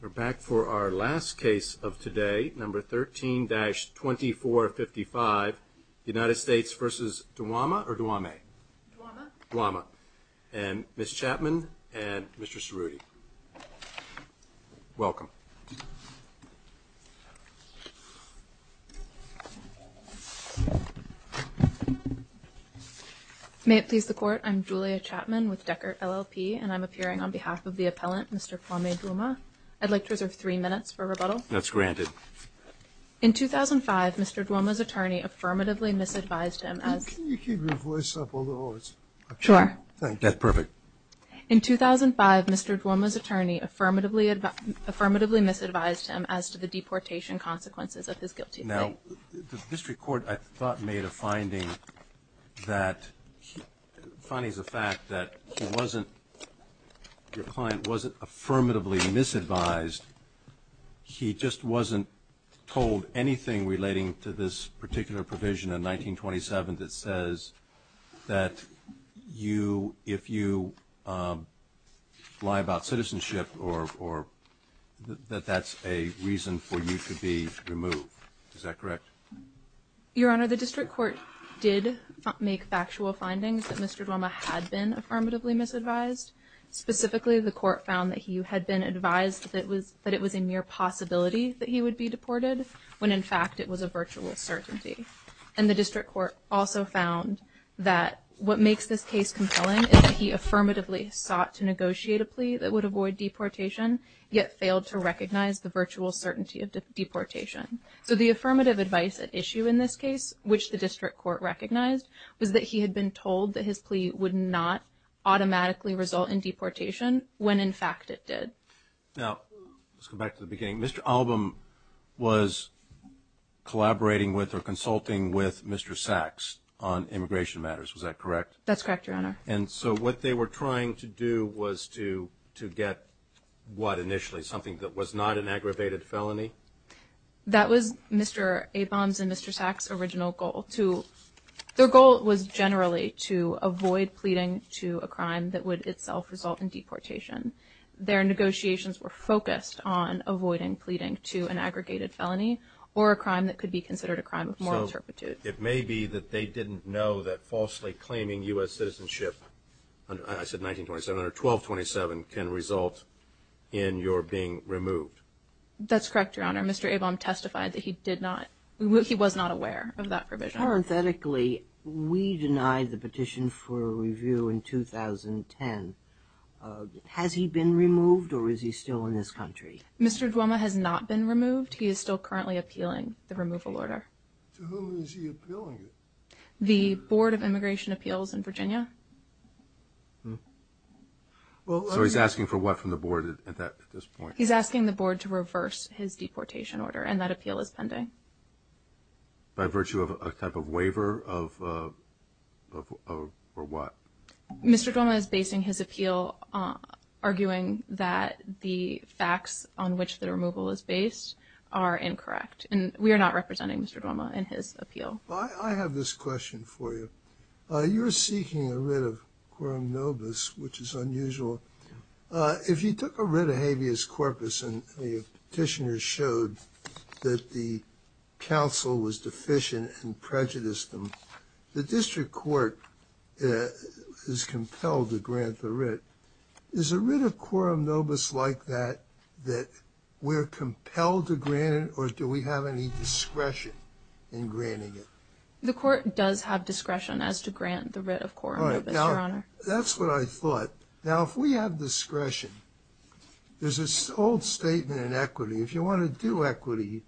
We're back for our last case of today, number 13-2455, United States v. Dwumaah and Ms. Chapman and Mr. Cerruti. Welcome. May it please the court, I'm Julia Chapman with Deckert LLP and I'm Mr. Kwame Dwumaah. I'd like to reserve three minutes for rebuttal. That's granted. In 2005, Mr. Dwumaah's attorney affirmatively misadvised him as... Can you keep your voice up a little? Sure. That's perfect. In 2005, Mr. Dwumaah's attorney affirmatively misadvised him as to the deportation consequences of his guilty plea. Now, the District Court, I thought, made a finding that, the finding is a fact, that he wasn't, your client wasn't affirmatively misadvised. He just wasn't told anything relating to this particular provision in 1927 that says that you, if you lie about citizenship or that that's a reason for you to be removed. Is that correct? Your Honor, the District Court did make factual findings that Mr. Dwumaah had been misadvised. Specifically, the court found that he had been advised that it was a mere possibility that he would be deported, when in fact it was a virtual certainty. And the District Court also found that what makes this case compelling is that he affirmatively sought to negotiate a plea that would avoid deportation, yet failed to recognize the virtual certainty of deportation. So the affirmative advice at issue in this case, which the District Court recognized, was that he had been told that his plea would not automatically result in deportation, when in fact it did. Now, let's go back to the beginning. Mr. Albom was collaborating with or consulting with Mr. Sachs on immigration matters. Was that correct? That's correct, Your Honor. And so what they were trying to do was to get what initially? Something that was not an aggravated felony? That was Mr. Abrahams and Mr. Sachs' original goal. Their goal was generally to avoid pleading to a crime that would itself result in deportation. Their negotiations were focused on avoiding pleading to an aggregated felony or a crime that could be considered a crime of moral turpitude. It may be that they didn't know that falsely claiming U.S. citizenship, I said 1927, or 1227, can result in your being removed. That's correct, Your Honor. Mr. Albom testified that he did not. He was not aware of that provision. Parenthetically, we denied the petition for review in 2010. Has he been removed or is he still in this country? Mr. Duoma has not been removed. He is still currently appealing the removal order. To whom is he appealing it? The Board of Immigration Appeals in Virginia. So he's asking for what from the board at this point? He's asking the board to reverse his deportation order, and that appeal is pending. By virtue of a type of waiver of what? Mr. Duoma is basing his appeal arguing that the facts on which the removal is based are incorrect, and we are not representing Mr. Duoma in his appeal. I have this question for you. You're seeking a writ of quorum nobis, which is unusual. If you took a writ of habeas corpus and the petitioner showed that the counsel was deficient and prejudiced them, the district court is compelled to grant the writ. Is a writ of quorum nobis like that, that we're compelled to grant it, or do we have any discretion in granting it? The court does have discretion as to grant the writ of quorum nobis, Your Honor. That's what I thought. Now, if we have discretion, there's this old statement in equity. If you want to do equity,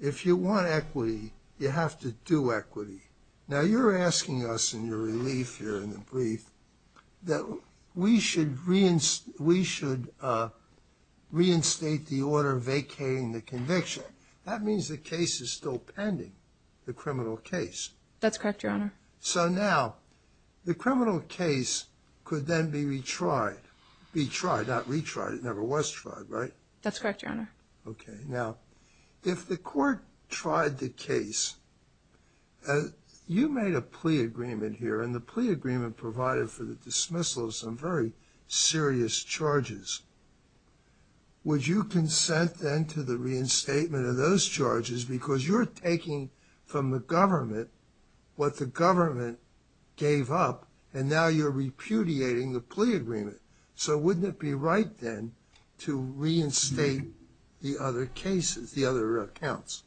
if you want equity, you have to do equity. Now, you're asking us in your relief here in the brief that we should reinstate the order vacating the conviction. That means the case is still pending, the criminal case. That's correct, Your Honor. So now, the criminal case could then be retried. Not retried. It never was tried, right? That's correct, Your Honor. Okay. Now, if the court tried the case, you made a plea agreement here and the plea agreement provided for the dismissal of some very serious charges. Would you consent then to the reinstatement of those charges because you're taking from the government what the government gave up and now you're repudiating the plea agreement? So wouldn't it be right then to reinstate the other cases, the other accounts?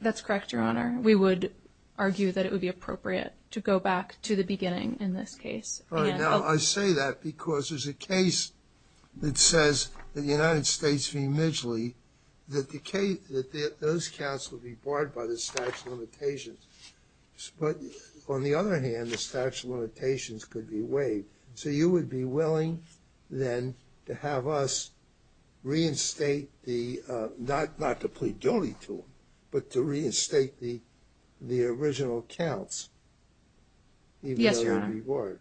That's correct, Your Honor. We would argue that it would be appropriate to go back to the beginning in this case. Right now, I say that because there's a case that says that the United States v. Midgley, that the case, that those counts would be barred by the statute of limitations. But on the other hand, the willing then to have us reinstate the, not to plead guilty to them, but to reinstate the original accounts. Yes, Your Honor.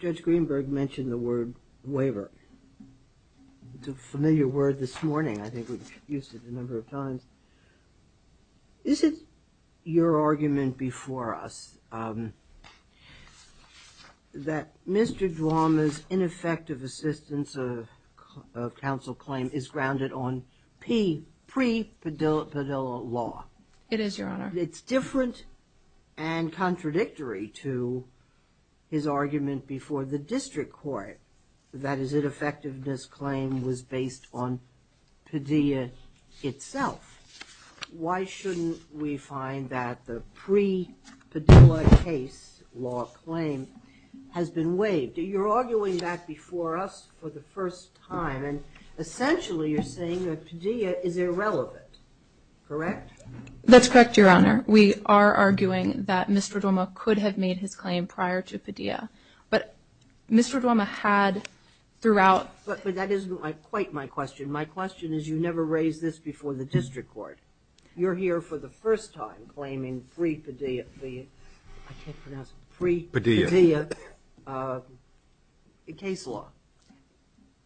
Judge Greenberg mentioned the word waiver. It's a familiar word this morning. I think we've used it a number of times. Is it your argument before us that Mr. Duwamish's ineffective assistance of counsel claim is grounded on pre-Padilla law? It is, Your Honor. It's different and contradictory to his argument before the district court that his ineffectiveness claim was based on Padilla itself. Why shouldn't we find that the pre-Padilla case law claim has been waived? You're arguing that before us for the first time, and essentially you're saying that Padilla is irrelevant, correct? That's correct, Your Honor. We are arguing that Mr. Duwamish could have made his claim prior to Padilla. But Mr. Duwamish had throughout... But that isn't quite my question. My question is you never raised this before the district court. You're here for the first time claiming pre-Padilla case law.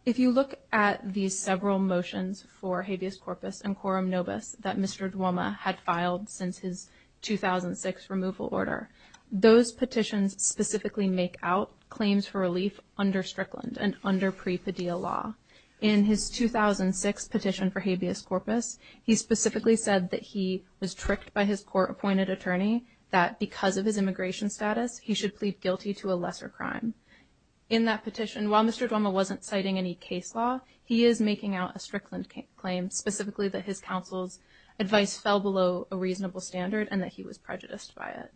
If you look at these several motions for habeas corpus and quorum nobis that Mr. Duwamish had filed since his 2006 removal order, those petitions specifically make out claims for relief under Strickland and under pre-Padilla law. In his 2006 petition for habeas corpus, he specifically said that he was tricked by his court-appointed attorney that because of his immigration status, he should plead guilty to a lesser crime. In that petition, while Mr. Duwamish wasn't citing any case law, he is making out a Strickland claim, specifically that his was prejudiced by it.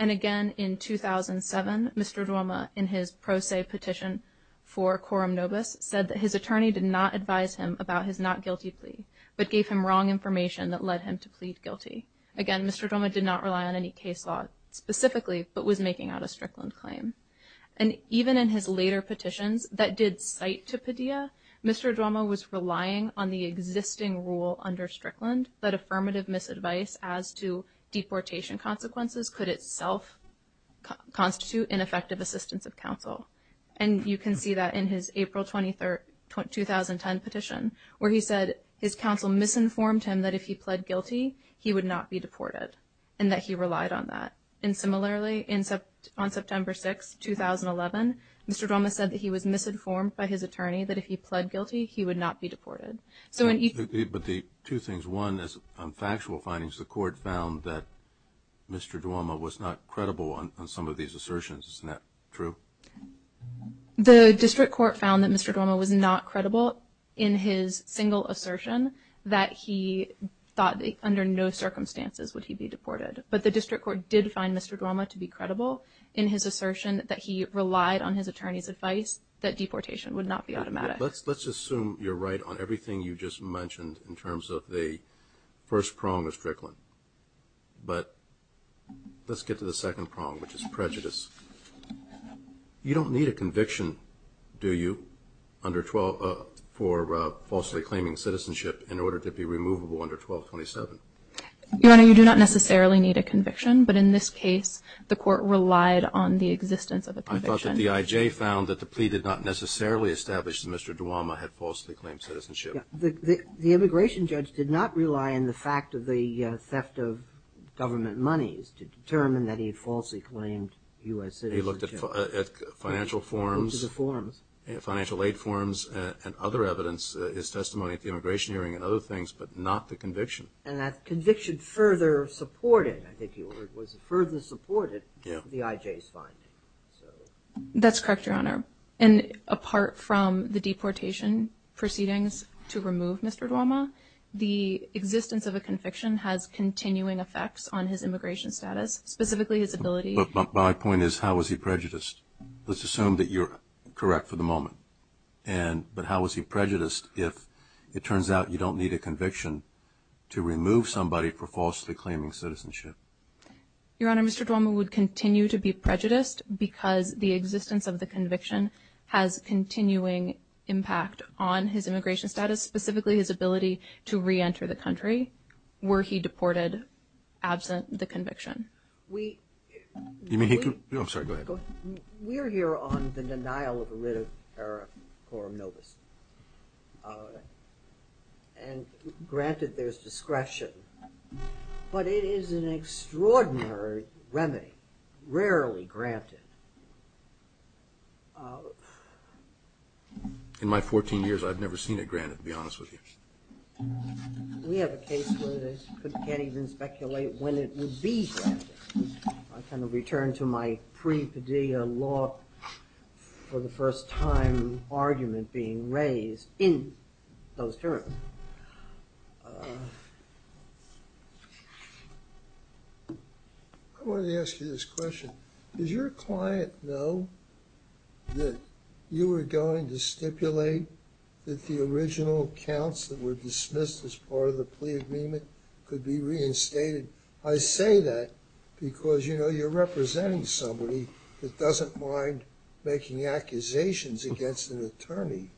And again, in 2007, Mr. Duwamish, in his pro se petition for quorum nobis, said that his attorney did not advise him about his not guilty plea, but gave him wrong information that led him to plead guilty. Again, Mr. Duwamish did not rely on any case law specifically, but was making out a Strickland claim. And even in his later petitions that did cite to Padilla, Mr. Duwamish was relying on the existing rule under Strickland that affirmative misadvice as to deportation consequences could itself constitute ineffective assistance of counsel. And you can see that in his April 23rd 2010 petition, where he said his counsel misinformed him that if he pled guilty, he would not be deported, and that he relied on that. And similarly, on September 6, 2011, Mr. Duwamish said that he was misinformed by his attorney that if he pled guilty, he would not be deported. But the two things, one is factual findings, the court found that Mr. Duwamish was not credible on some of these assertions. Isn't that true? The district court found that Mr. Duwamish was not credible in his single assertion that he thought that under no circumstances would he be deported. But the district court did find Mr. Duwamish to be credible in his assertion that he relied on his attorney's advice that let's assume you're right on everything you just mentioned in terms of the first prong of Strickland, but let's get to the second prong, which is prejudice. You don't need a conviction, do you, for falsely claiming citizenship in order to be removable under 1227? Your Honor, you do not necessarily need a conviction, but in this case the court relied on the existence of a conviction. The IJ found that the plea did not necessarily establish that Mr. Duwamish had falsely claimed citizenship. The immigration judge did not rely on the fact of the theft of government monies to determine that he falsely claimed U.S. citizenship. He looked at financial forms, financial aid forms and other evidence, his testimony at the immigration hearing and other things, but not the conviction. And that conviction further supported, I think you heard, was further supported by the IJ's finding. That's correct, Your Honor. And apart from the deportation proceedings to remove Mr. Duwamish, the existence of a conviction has continuing effects on his immigration status, specifically his ability... But my point is, how was he prejudiced? Let's assume that you're correct for the moment, but how was he prejudiced if it turns out you don't need a conviction to remove somebody for falsely claiming citizenship? Your Honor, Mr. Duwamish would continue to be prejudiced because the existence of the conviction has continuing impact on his immigration status, specifically his ability to re-enter the country, were he deported absent the conviction. We're here on the denial of a writ of error, Quorum Novus, and granted there's discretion, but it is an extraordinary remedy, rarely granted. In my 14 years, I've never seen it granted, to be honest with you. We have a case where you can't even speculate when it would be granted. I kind of return to my pre-Padilla law for the I wanted to ask you this question. Does your client know that you were going to stipulate that the original counts that were dismissed as part of the plea agreement could be reinstated? I say that because, you know, you're representing somebody that doesn't mind making accusations against an attorney.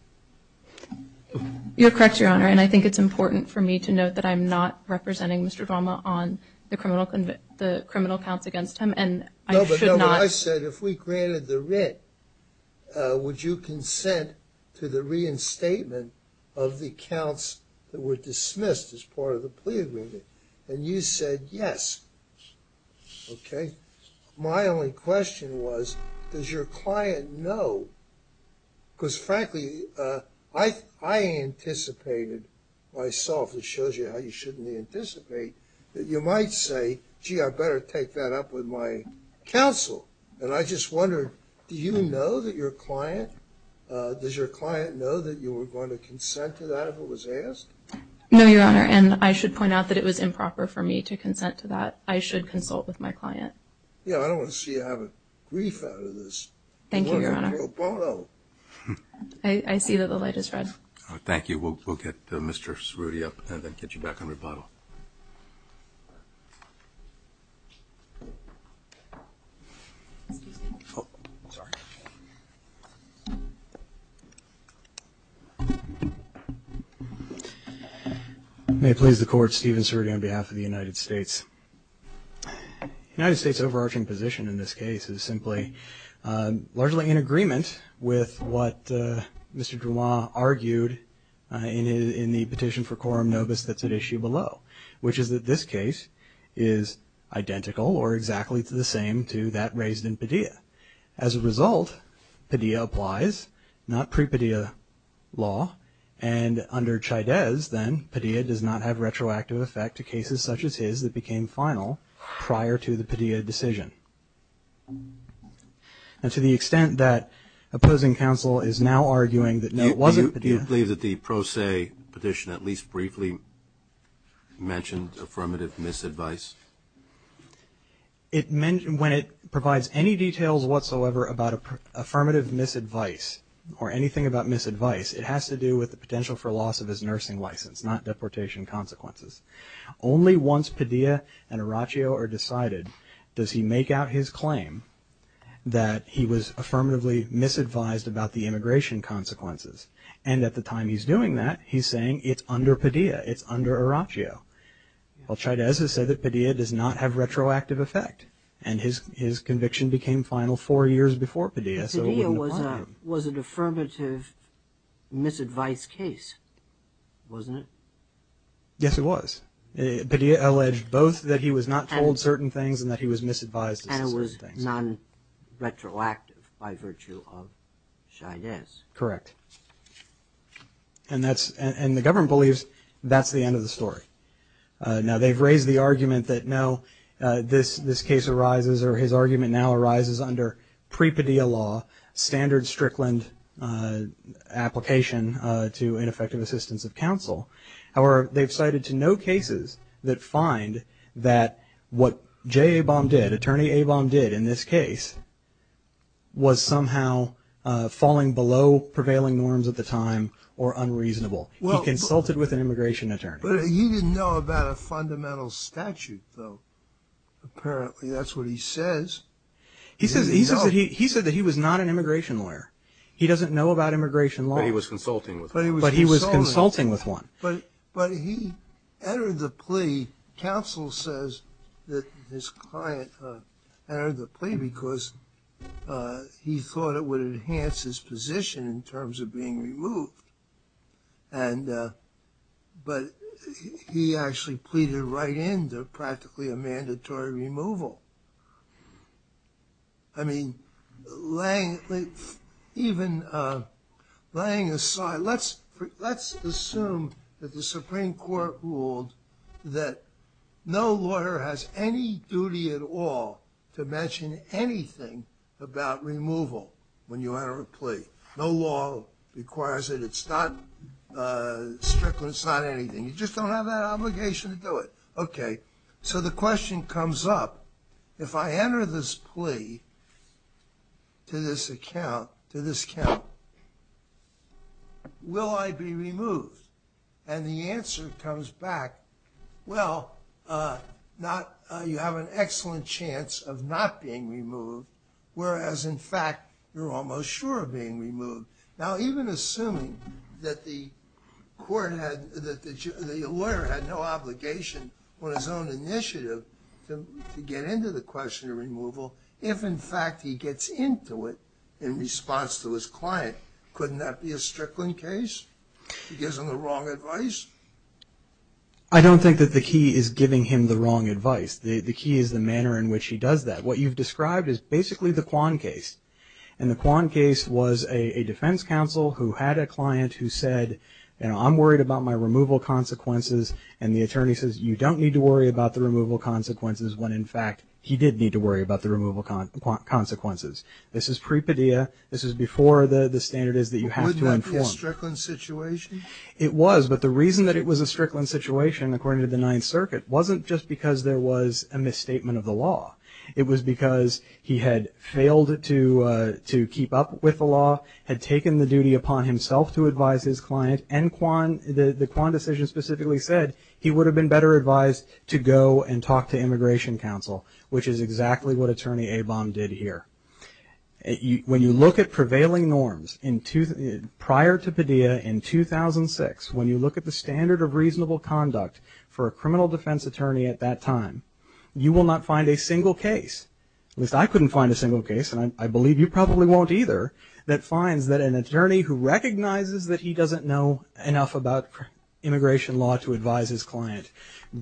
You're correct, Your Honor, and I think it's important for me to note that I'm not representing Mr. Duwamish on the criminal counts against him, and I should not. No, but I said if we granted the writ, would you consent to the reinstatement of the counts that were dismissed as part of the plea agreement? And you said yes. Okay. My only question was, does your client know? Because frankly, I anticipated myself, it shows you how you shouldn't anticipate, that you might say, gee, I better take that up with my counsel. And I just wondered, do you know that your client, does your client know that you were going to consent to that if it was asked? No, Your Honor, and I should point out that it was improper for me to consent to that. I should consult with my client. Yeah, I don't want to see you have a grief out of this. Thank you, Your Honor. I see that the light is red. Thank you. We'll get Mr. Cerruti up and then get you back on rebuttal. May it please the Court, Stephen Cerruti on behalf of the United States. The United States' overarching position in this case is simply largely in agreement with what Mr. Drouin argued in the petition for quorum nobis that's at issue below, which is that this case is identical or exactly to the same to that raised in Padilla. As a result, Padilla applies, not pre-Padilla law, and under Chaydez, then, Padilla does not have retroactive effect to cases such as his that became final prior to the Padilla decision. And to the extent that opposing counsel is now mentioned affirmative misadvice? When it provides any details whatsoever about affirmative misadvice or anything about misadvice, it has to do with the potential for loss of his nursing license, not deportation consequences. Only once Padilla and Araccio are decided does he make out his claim that he was affirmatively misadvised about the immigration consequences. And at the Well, Chaydez has said that Padilla does not have retroactive effect, and his conviction became final four years before Padilla, so it wouldn't apply to him. Padilla was an affirmative misadvice case, wasn't it? Yes, it was. Padilla alleged both that he was not told certain things and that he was misadvised. And it was non-retroactive by virtue of Chaydez. Correct. And the government believes that's the end of the story. Now they've raised the argument that no, this case arises, or his argument now arises, under pre-Padilla law, standard Strickland application to ineffective assistance of counsel. However, they've cited to no cases that find that what prevailing norms at the time were unreasonable. He consulted with an immigration attorney. But he didn't know about a fundamental statute, though. Apparently that's what he says. He said that he was not an immigration lawyer. He doesn't know about immigration law. But he was consulting with one. But he was consulting with one. But he entered the plea, counsel says, that his client entered the plea because he thought it would enhance his position in terms of being removed. But he actually pleaded right in to practically a mandatory removal. I mean, even laying aside, let's assume that the Supreme Court ruled that no thing about removal when you enter a plea. No law requires it. It's not Strickland. It's not anything. You just don't have that obligation to do it. Okay. So the question comes up, if I enter this plea to this account, will I be removed? And the answer comes back, well, you have an excellent chance of not being removed. Whereas, in fact, you're almost sure of being removed. Now, even assuming that the lawyer had no obligation on his own initiative to get into the question of removal, if, in fact, he gets into it in response to his client, couldn't that be a Strickland case? He gives him the wrong advice? I don't think that the key is giving him the wrong advice. The key is the manner in which he does that. What you've described is basically the Kwan case. And the Kwan case was a defense counsel who had a client who said, I'm worried about my removal consequences. And the attorney says, you don't need to worry about the removal consequences when, in fact, he did need to worry about the removal consequences. This is pre-pedia. This is before the standard is that you have to inform. Was that a Strickland situation? It was. But the reason that it was a Strickland situation, according to the law, it was because he had failed to keep up with the law, had taken the duty upon himself to advise his client, and the Kwan decision specifically said he would have been better advised to go and talk to immigration counsel, which is exactly what attorney Abom did here. When you look at prevailing norms prior to pedia in 2006, when you look at the standard of reasonable conduct for a criminal defense attorney at that time, you will not find a single case, at least I couldn't find a single case, and I believe you probably won't either, that finds that an attorney who recognizes that he doesn't know enough about immigration law to advise his client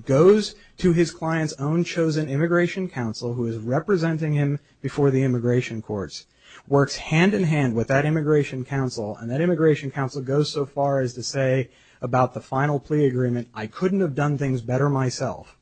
goes to his client's own chosen immigration counsel who is representing him before the immigration courts, works hand in hand with that immigration counsel, and that immigration counsel goes so far as to say about the final plea agreement, I couldn't have done things better myself.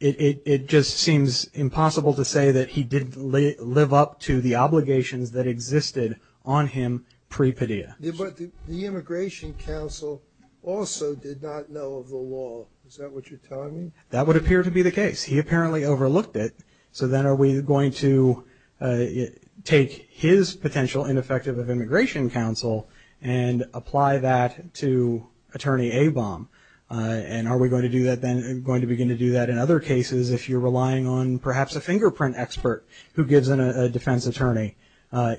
It just seems impossible to say that he didn't live up to the obligations that existed on him pre-pedia. But the immigration counsel also did not know of the law. Is that what you're telling me? That would appear to be the case. He apparently overlooked it, so then are we going to take his potential ineffectiveness of immigration counsel and apply that to attorney Abom, and are we going to do that then, going to begin to do that in other cases if you're relying on perhaps a fingerprint expert who gives a defense attorney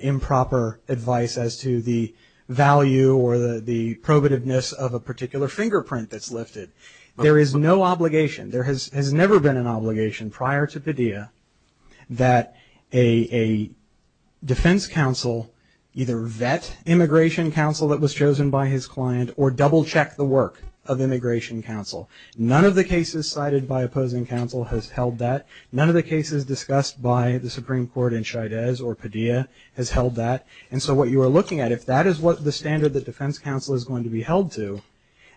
improper advice as to the value or the probativeness of a particular fingerprint that's lifted. There is no obligation, there has never been an obligation prior to pedia that a defense counsel either vet immigration counsel that was chosen by his client, or double check the work of immigration counsel. None of the cases cited by opposing counsel has held that. None of the cases discussed by the Supreme Court in Shidez or pedia has held that. And so what you are looking at, if that is what the standard that defense counsel is going to be held to,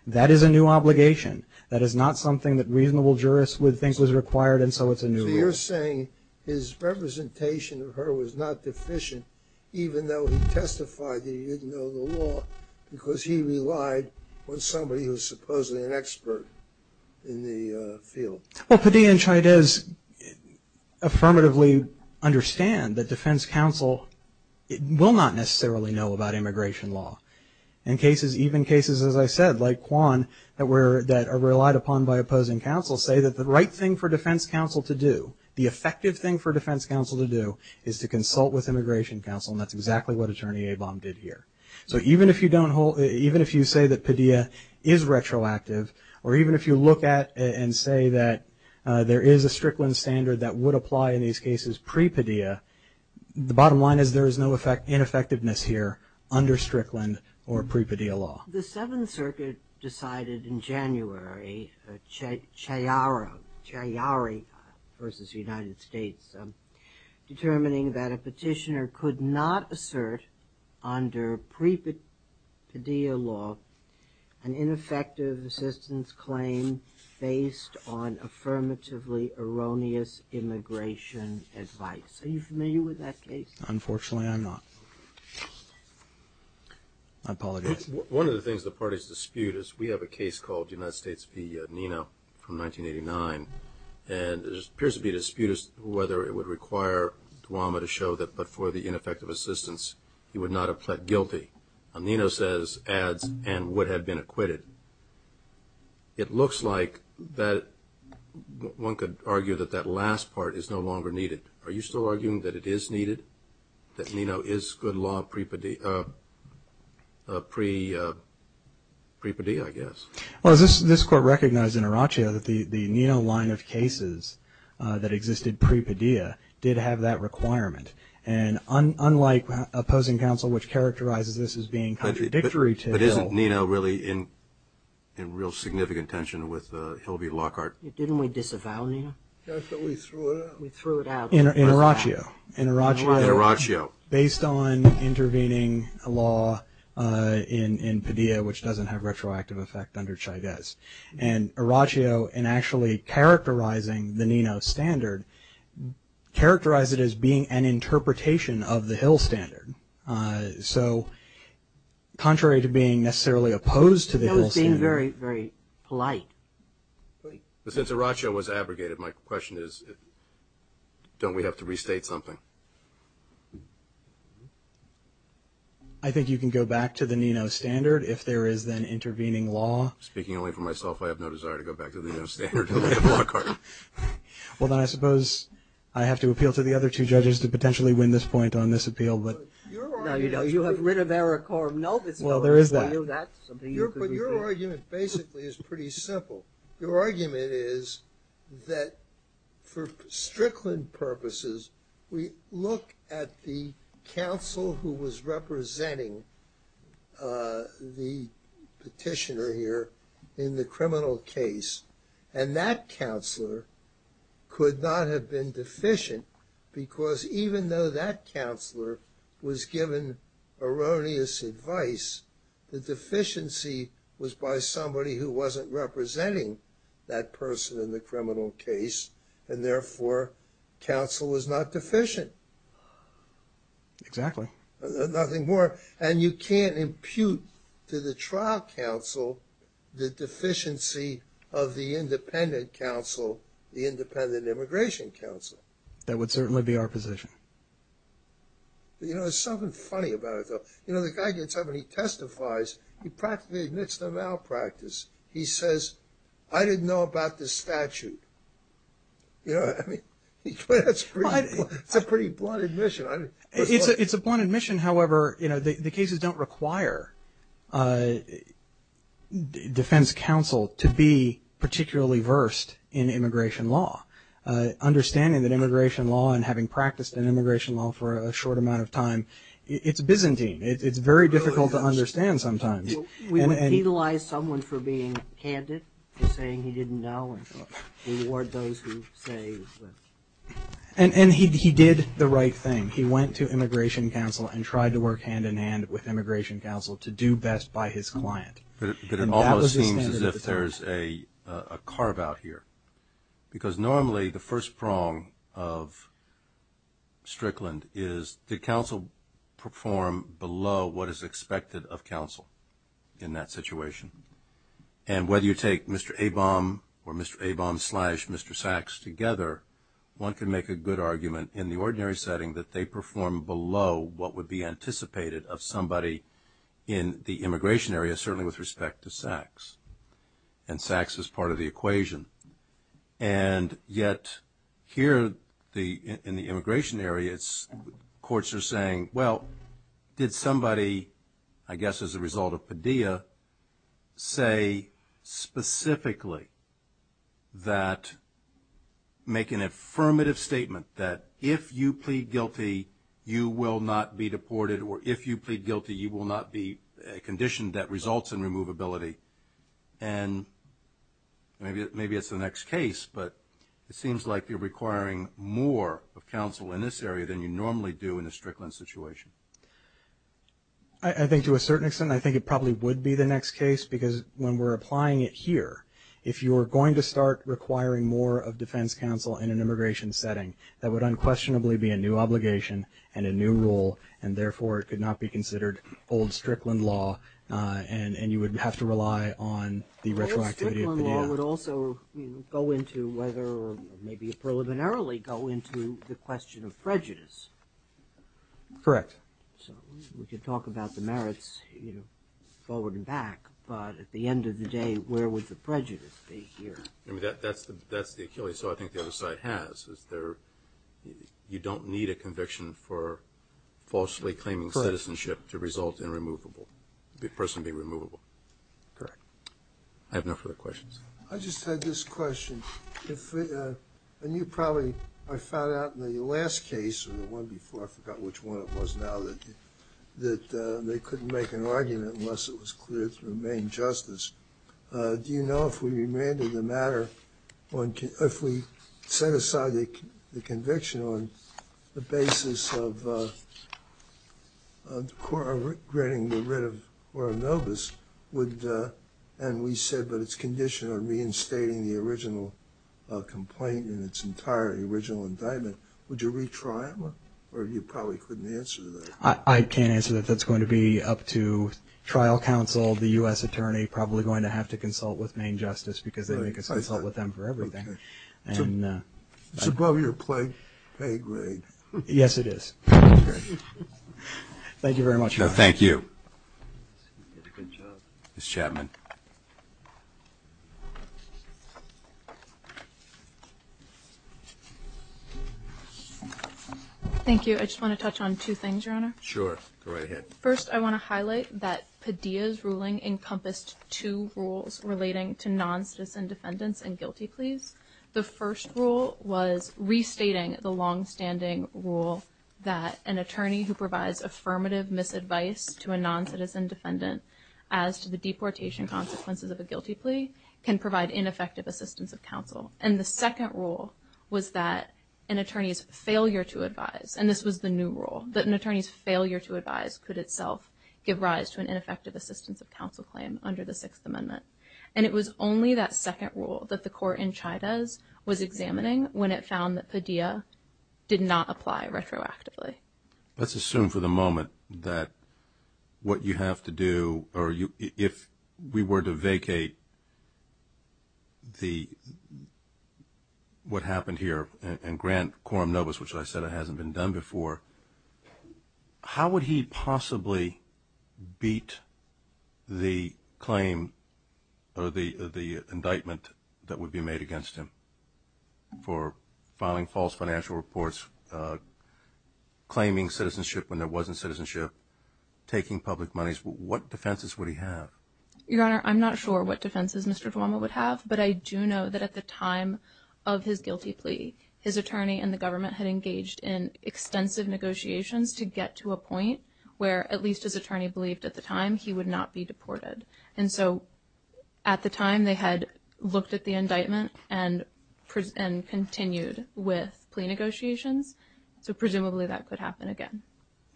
that is a new obligation. That is not something that reasonable jurists would think was required, and so it's a new rule. So you're saying his representation of her was not deficient, even though he testified that he didn't know the law, because he relied on somebody who's supposedly an expert in the field. Well, pedia and Shidez affirmatively understand that defense counsel will not necessarily know about immigration law. In cases, even cases as I said, like Kwan, that were, that are relied upon by opposing counsel, say that the right thing for defense counsel to do, the effective thing for defense counsel to do, is to consult with immigration counsel, and that's exactly what Attorney Abom did here. So even if you don't hold, even if you say that pedia is retroactive, or even if you look at and say that there is a Strickland standard that would apply in these cases pre-pedia, the bottom line is there is no effect, ineffectiveness here under Strickland or pre-pedia law. The Seventh Circuit decided in January, Chiari versus United States. Determining that a petitioner could not assert under pre-pedia law an ineffective assistance claim based on affirmatively erroneous immigration advice. Are you familiar with that case? Unfortunately, I'm not. I apologize. One of the things the parties dispute is we have a case called United States v. Nino from 1989. And it appears to be disputed whether it would require Duwamish to show that but for the ineffective assistance, he would not have pled guilty. And Nino says, adds, and would have been acquitted. It looks like that one could argue that that last part is no longer needed. Are you still arguing that it is needed? That Nino is good law pre-pedia, pre-pedia, I guess. Well, this court recognized in Araccio that the Nino line of cases that existed pre-pedia did have that requirement. And unlike opposing counsel, which characterizes this as being contradictory to- But isn't Nino really in real significant tension with Hilby Lockhart? Didn't we disavow Nino? Yes, but we threw it out. We threw it out. In Araccio. In Araccio. In Araccio. Based on intervening law in, in pedia, which doesn't have retroactive effect under Chavez. And Araccio, in actually characterizing the Nino standard, characterized it as being an interpretation of the Hill standard. So, contrary to being necessarily opposed to the Hill standard- That was being very, very polite. But since Araccio was abrogated, my question is, don't we have to restate something? I think you can go back to the Nino standard if there is then intervening law. Speaking only for myself, I have no desire to go back to the Nino standard. I'll look at Lockhart. Well, then I suppose I have to appeal to the other two judges to potentially win this point on this appeal, but- No, you know, you have rid of Eric Corum. Nope, it's- Well, there is that. Well, that's something you could- But your argument basically is pretty simple. Your argument is that for Strickland purposes, we look at the counsel who was representing the petitioner here in the criminal case. And that counselor could not have been deficient, because even though that counselor was given erroneous advice, the deficiency was by somebody who wasn't representing that person in the criminal case, and therefore, counsel was not deficient. Exactly. Nothing more. And you can't impute to the trial counsel the deficiency of the independent counsel, the independent immigration counsel. That would certainly be our position. You know, there's something funny about it, though. You know, the guy gets up and he testifies. He practically admits the malpractice. He says, I didn't know about this statute. You know, I mean, that's a pretty blunt admission. It's a blunt admission, however, you know, the cases don't require defense counsel to be particularly versed in immigration law. Understanding that immigration law and having practiced in immigration law for a short amount of time, it's Byzantine. It's very difficult to understand sometimes. We would penalize someone for being candid, for saying he didn't know, and reward those who say that- And he did the right thing. He went to immigration counsel and tried to work hand-in-hand with immigration counsel to do best by his client. But it also seems as if there's a carve out here. Because normally, the first prong of Strickland is, did counsel perform below what is expected of counsel in that situation? And whether you take Mr. Abom or Mr. Abom slash Mr. Sacks together, one can make a good argument in the ordinary setting that they perform below what would be anticipated of somebody in the immigration area, certainly with respect to Sacks. And Sacks is part of the equation. And yet here in the immigration area, courts are saying, well, did somebody, I guess as a result of Padilla, say specifically that make an affirmative statement that if you plead guilty, you will not be deported, or if you plead guilty, you will not be conditioned, that results in removability. And maybe it's the next case, but it seems like you're requiring more of counsel in this area than you normally do in a Strickland situation. I think to a certain extent, I think it probably would be the next case, because when we're applying it here, if you're going to start requiring more of defense counsel in an immigration setting, that would unquestionably be a new obligation and a new rule, and therefore it could not be considered old Strickland law, and you would have to rely on the retroactivity of Padilla. Old Strickland law would also go into whether, maybe preliminarily go into the question of prejudice. Correct. So we could talk about the merits forward and back, but at the end of the day, where would the prejudice be here? I mean, that's the Achilles' toe I think the other side has, is there, you don't need a conviction for falsely claiming citizenship to result in removable, the person being removable. Correct. I have no further questions. I just had this question. If, and you probably, I found out in the last case, or the one before, I forgot which one it was now, that they couldn't make an argument unless it was clear to remain justice, do you know if we remanded the matter on, if we set aside the conviction on the basis of the court granting the writ of Oronovas, would, and we said, but it's conditioned on reinstating the original complaint in its entire, the original indictment, would you retry them? Or you probably couldn't answer that. I can't answer that. That's going to be up to trial counsel, the US attorney, probably going to have to consult with main justice because they consult with them for everything. And. It's above your play, pay grade. Yes, it is. Thank you very much. No, thank you. You did a good job. Ms. Chapman. Thank you. I just want to touch on two things, your honor. Sure, go right ahead. First, I want to highlight that Padilla's ruling encompassed two rules relating to non-citizen defendants and guilty pleas. The first rule was restating the long-standing rule that an attorney who provides affirmative misadvice to a non-citizen defendant as to the deportation consequences of a guilty plea can provide ineffective assistance of counsel. And the second rule was that an attorney's failure to advise, and itself, give rise to an ineffective assistance of counsel claim under the Sixth Amendment. And it was only that second rule that the court in Chavez was examining when it found that Padilla did not apply retroactively. Let's assume for the moment that what you have to do, or you, if we were to vacate the, what happened here, and grant quorum nobis, which I said it hasn't been done before. How would he possibly beat the claim, or the indictment, that would be made against him? For filing false financial reports, claiming citizenship when there wasn't citizenship, taking public monies, what defenses would he have? Your honor, I'm not sure what defenses Mr. Duomo would have, but I do know that at the time of his negotiations to get to a point where at least his attorney believed at the time he would not be deported. And so at the time they had looked at the indictment and continued with plea negotiations, so presumably that could happen again.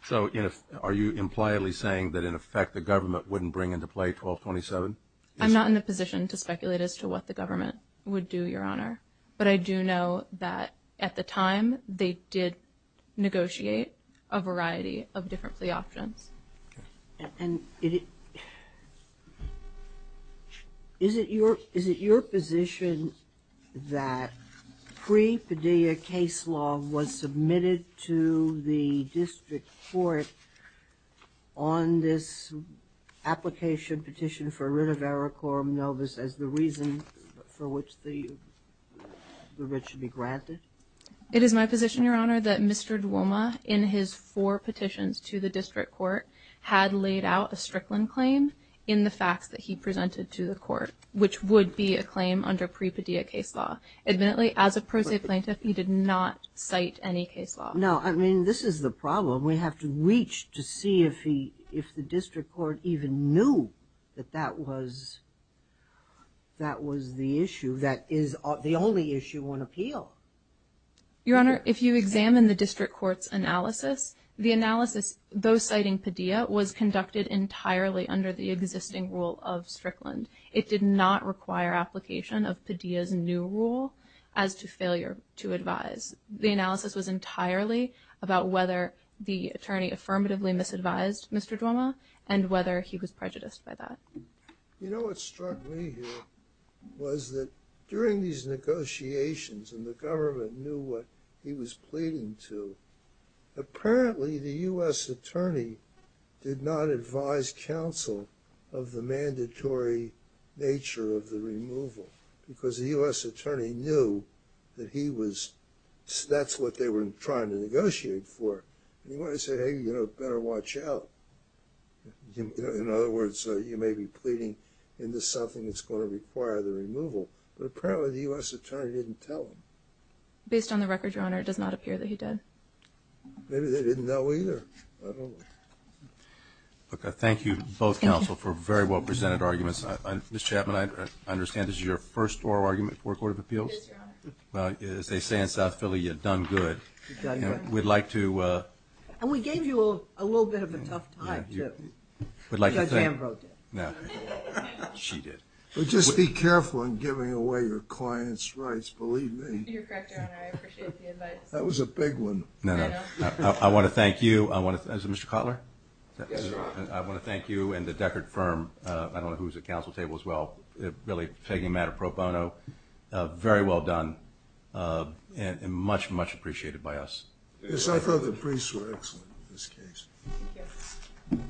So are you impliably saying that in effect the government wouldn't bring into play 1227? I'm not in a position to speculate as to what the government would do, your honor. But I do know that at the time they did negotiate a variety of different plea options. And is it your position that pre-Padilla case law was submitted to the district court on this application petition for a writ of error quorum nobis as the reason for which the writ should be granted? It is my position, your honor, that Mr. Duomo, in his four petitions to the district court, had laid out a Strickland claim in the facts that he presented to the court, which would be a claim under pre-Padilla case law. Admittedly, as a pro se plaintiff, he did not cite any case law. No, I mean, this is the problem. We have to reach to see if the district court even knew that that was the issue that is the only issue on appeal. Your honor, if you examine the district court's analysis, the analysis, though citing Padilla, was conducted entirely under the existing rule of Strickland. It did not require application of Padilla's new rule as to failure to advise. The analysis was entirely about whether the attorney affirmatively misadvised Mr. Duomo and whether he was prejudiced by that. You know, what struck me here was that during these negotiations, and the government knew what he was pleading to, apparently the US attorney did not advise counsel of the mandatory nature of the removal. Because the US attorney knew that he was, that's what they were trying to negotiate for. And he wanted to say, hey, you know, better watch out. In other words, you may be pleading into something that's going to require the removal. But apparently the US attorney didn't tell him. Based on the record, your honor, it does not appear that he did. Maybe they didn't know either. Okay, thank you both counsel for very well presented arguments. Ms. Chapman, I understand this is your first oral argument for a court of appeals? It is, your honor. Well, as they say in South Philly, you've done good. You've done good. We'd like to. And we gave you a little bit of a tough time, too. We got jam-broken. No, she did. But just be careful in giving away your client's rights, believe me. You're correct, your honor, I appreciate the advice. That was a big one. No, no, I want to thank you. I want to, is it Mr. Kotler? Yes, your honor. I want to thank you and the Deckard firm, I don't know who's at counsel table as well, really taking matter pro bono. Very well done, and much, much appreciated by us. Yes, I thought the briefs were excellent in this case. Thank you.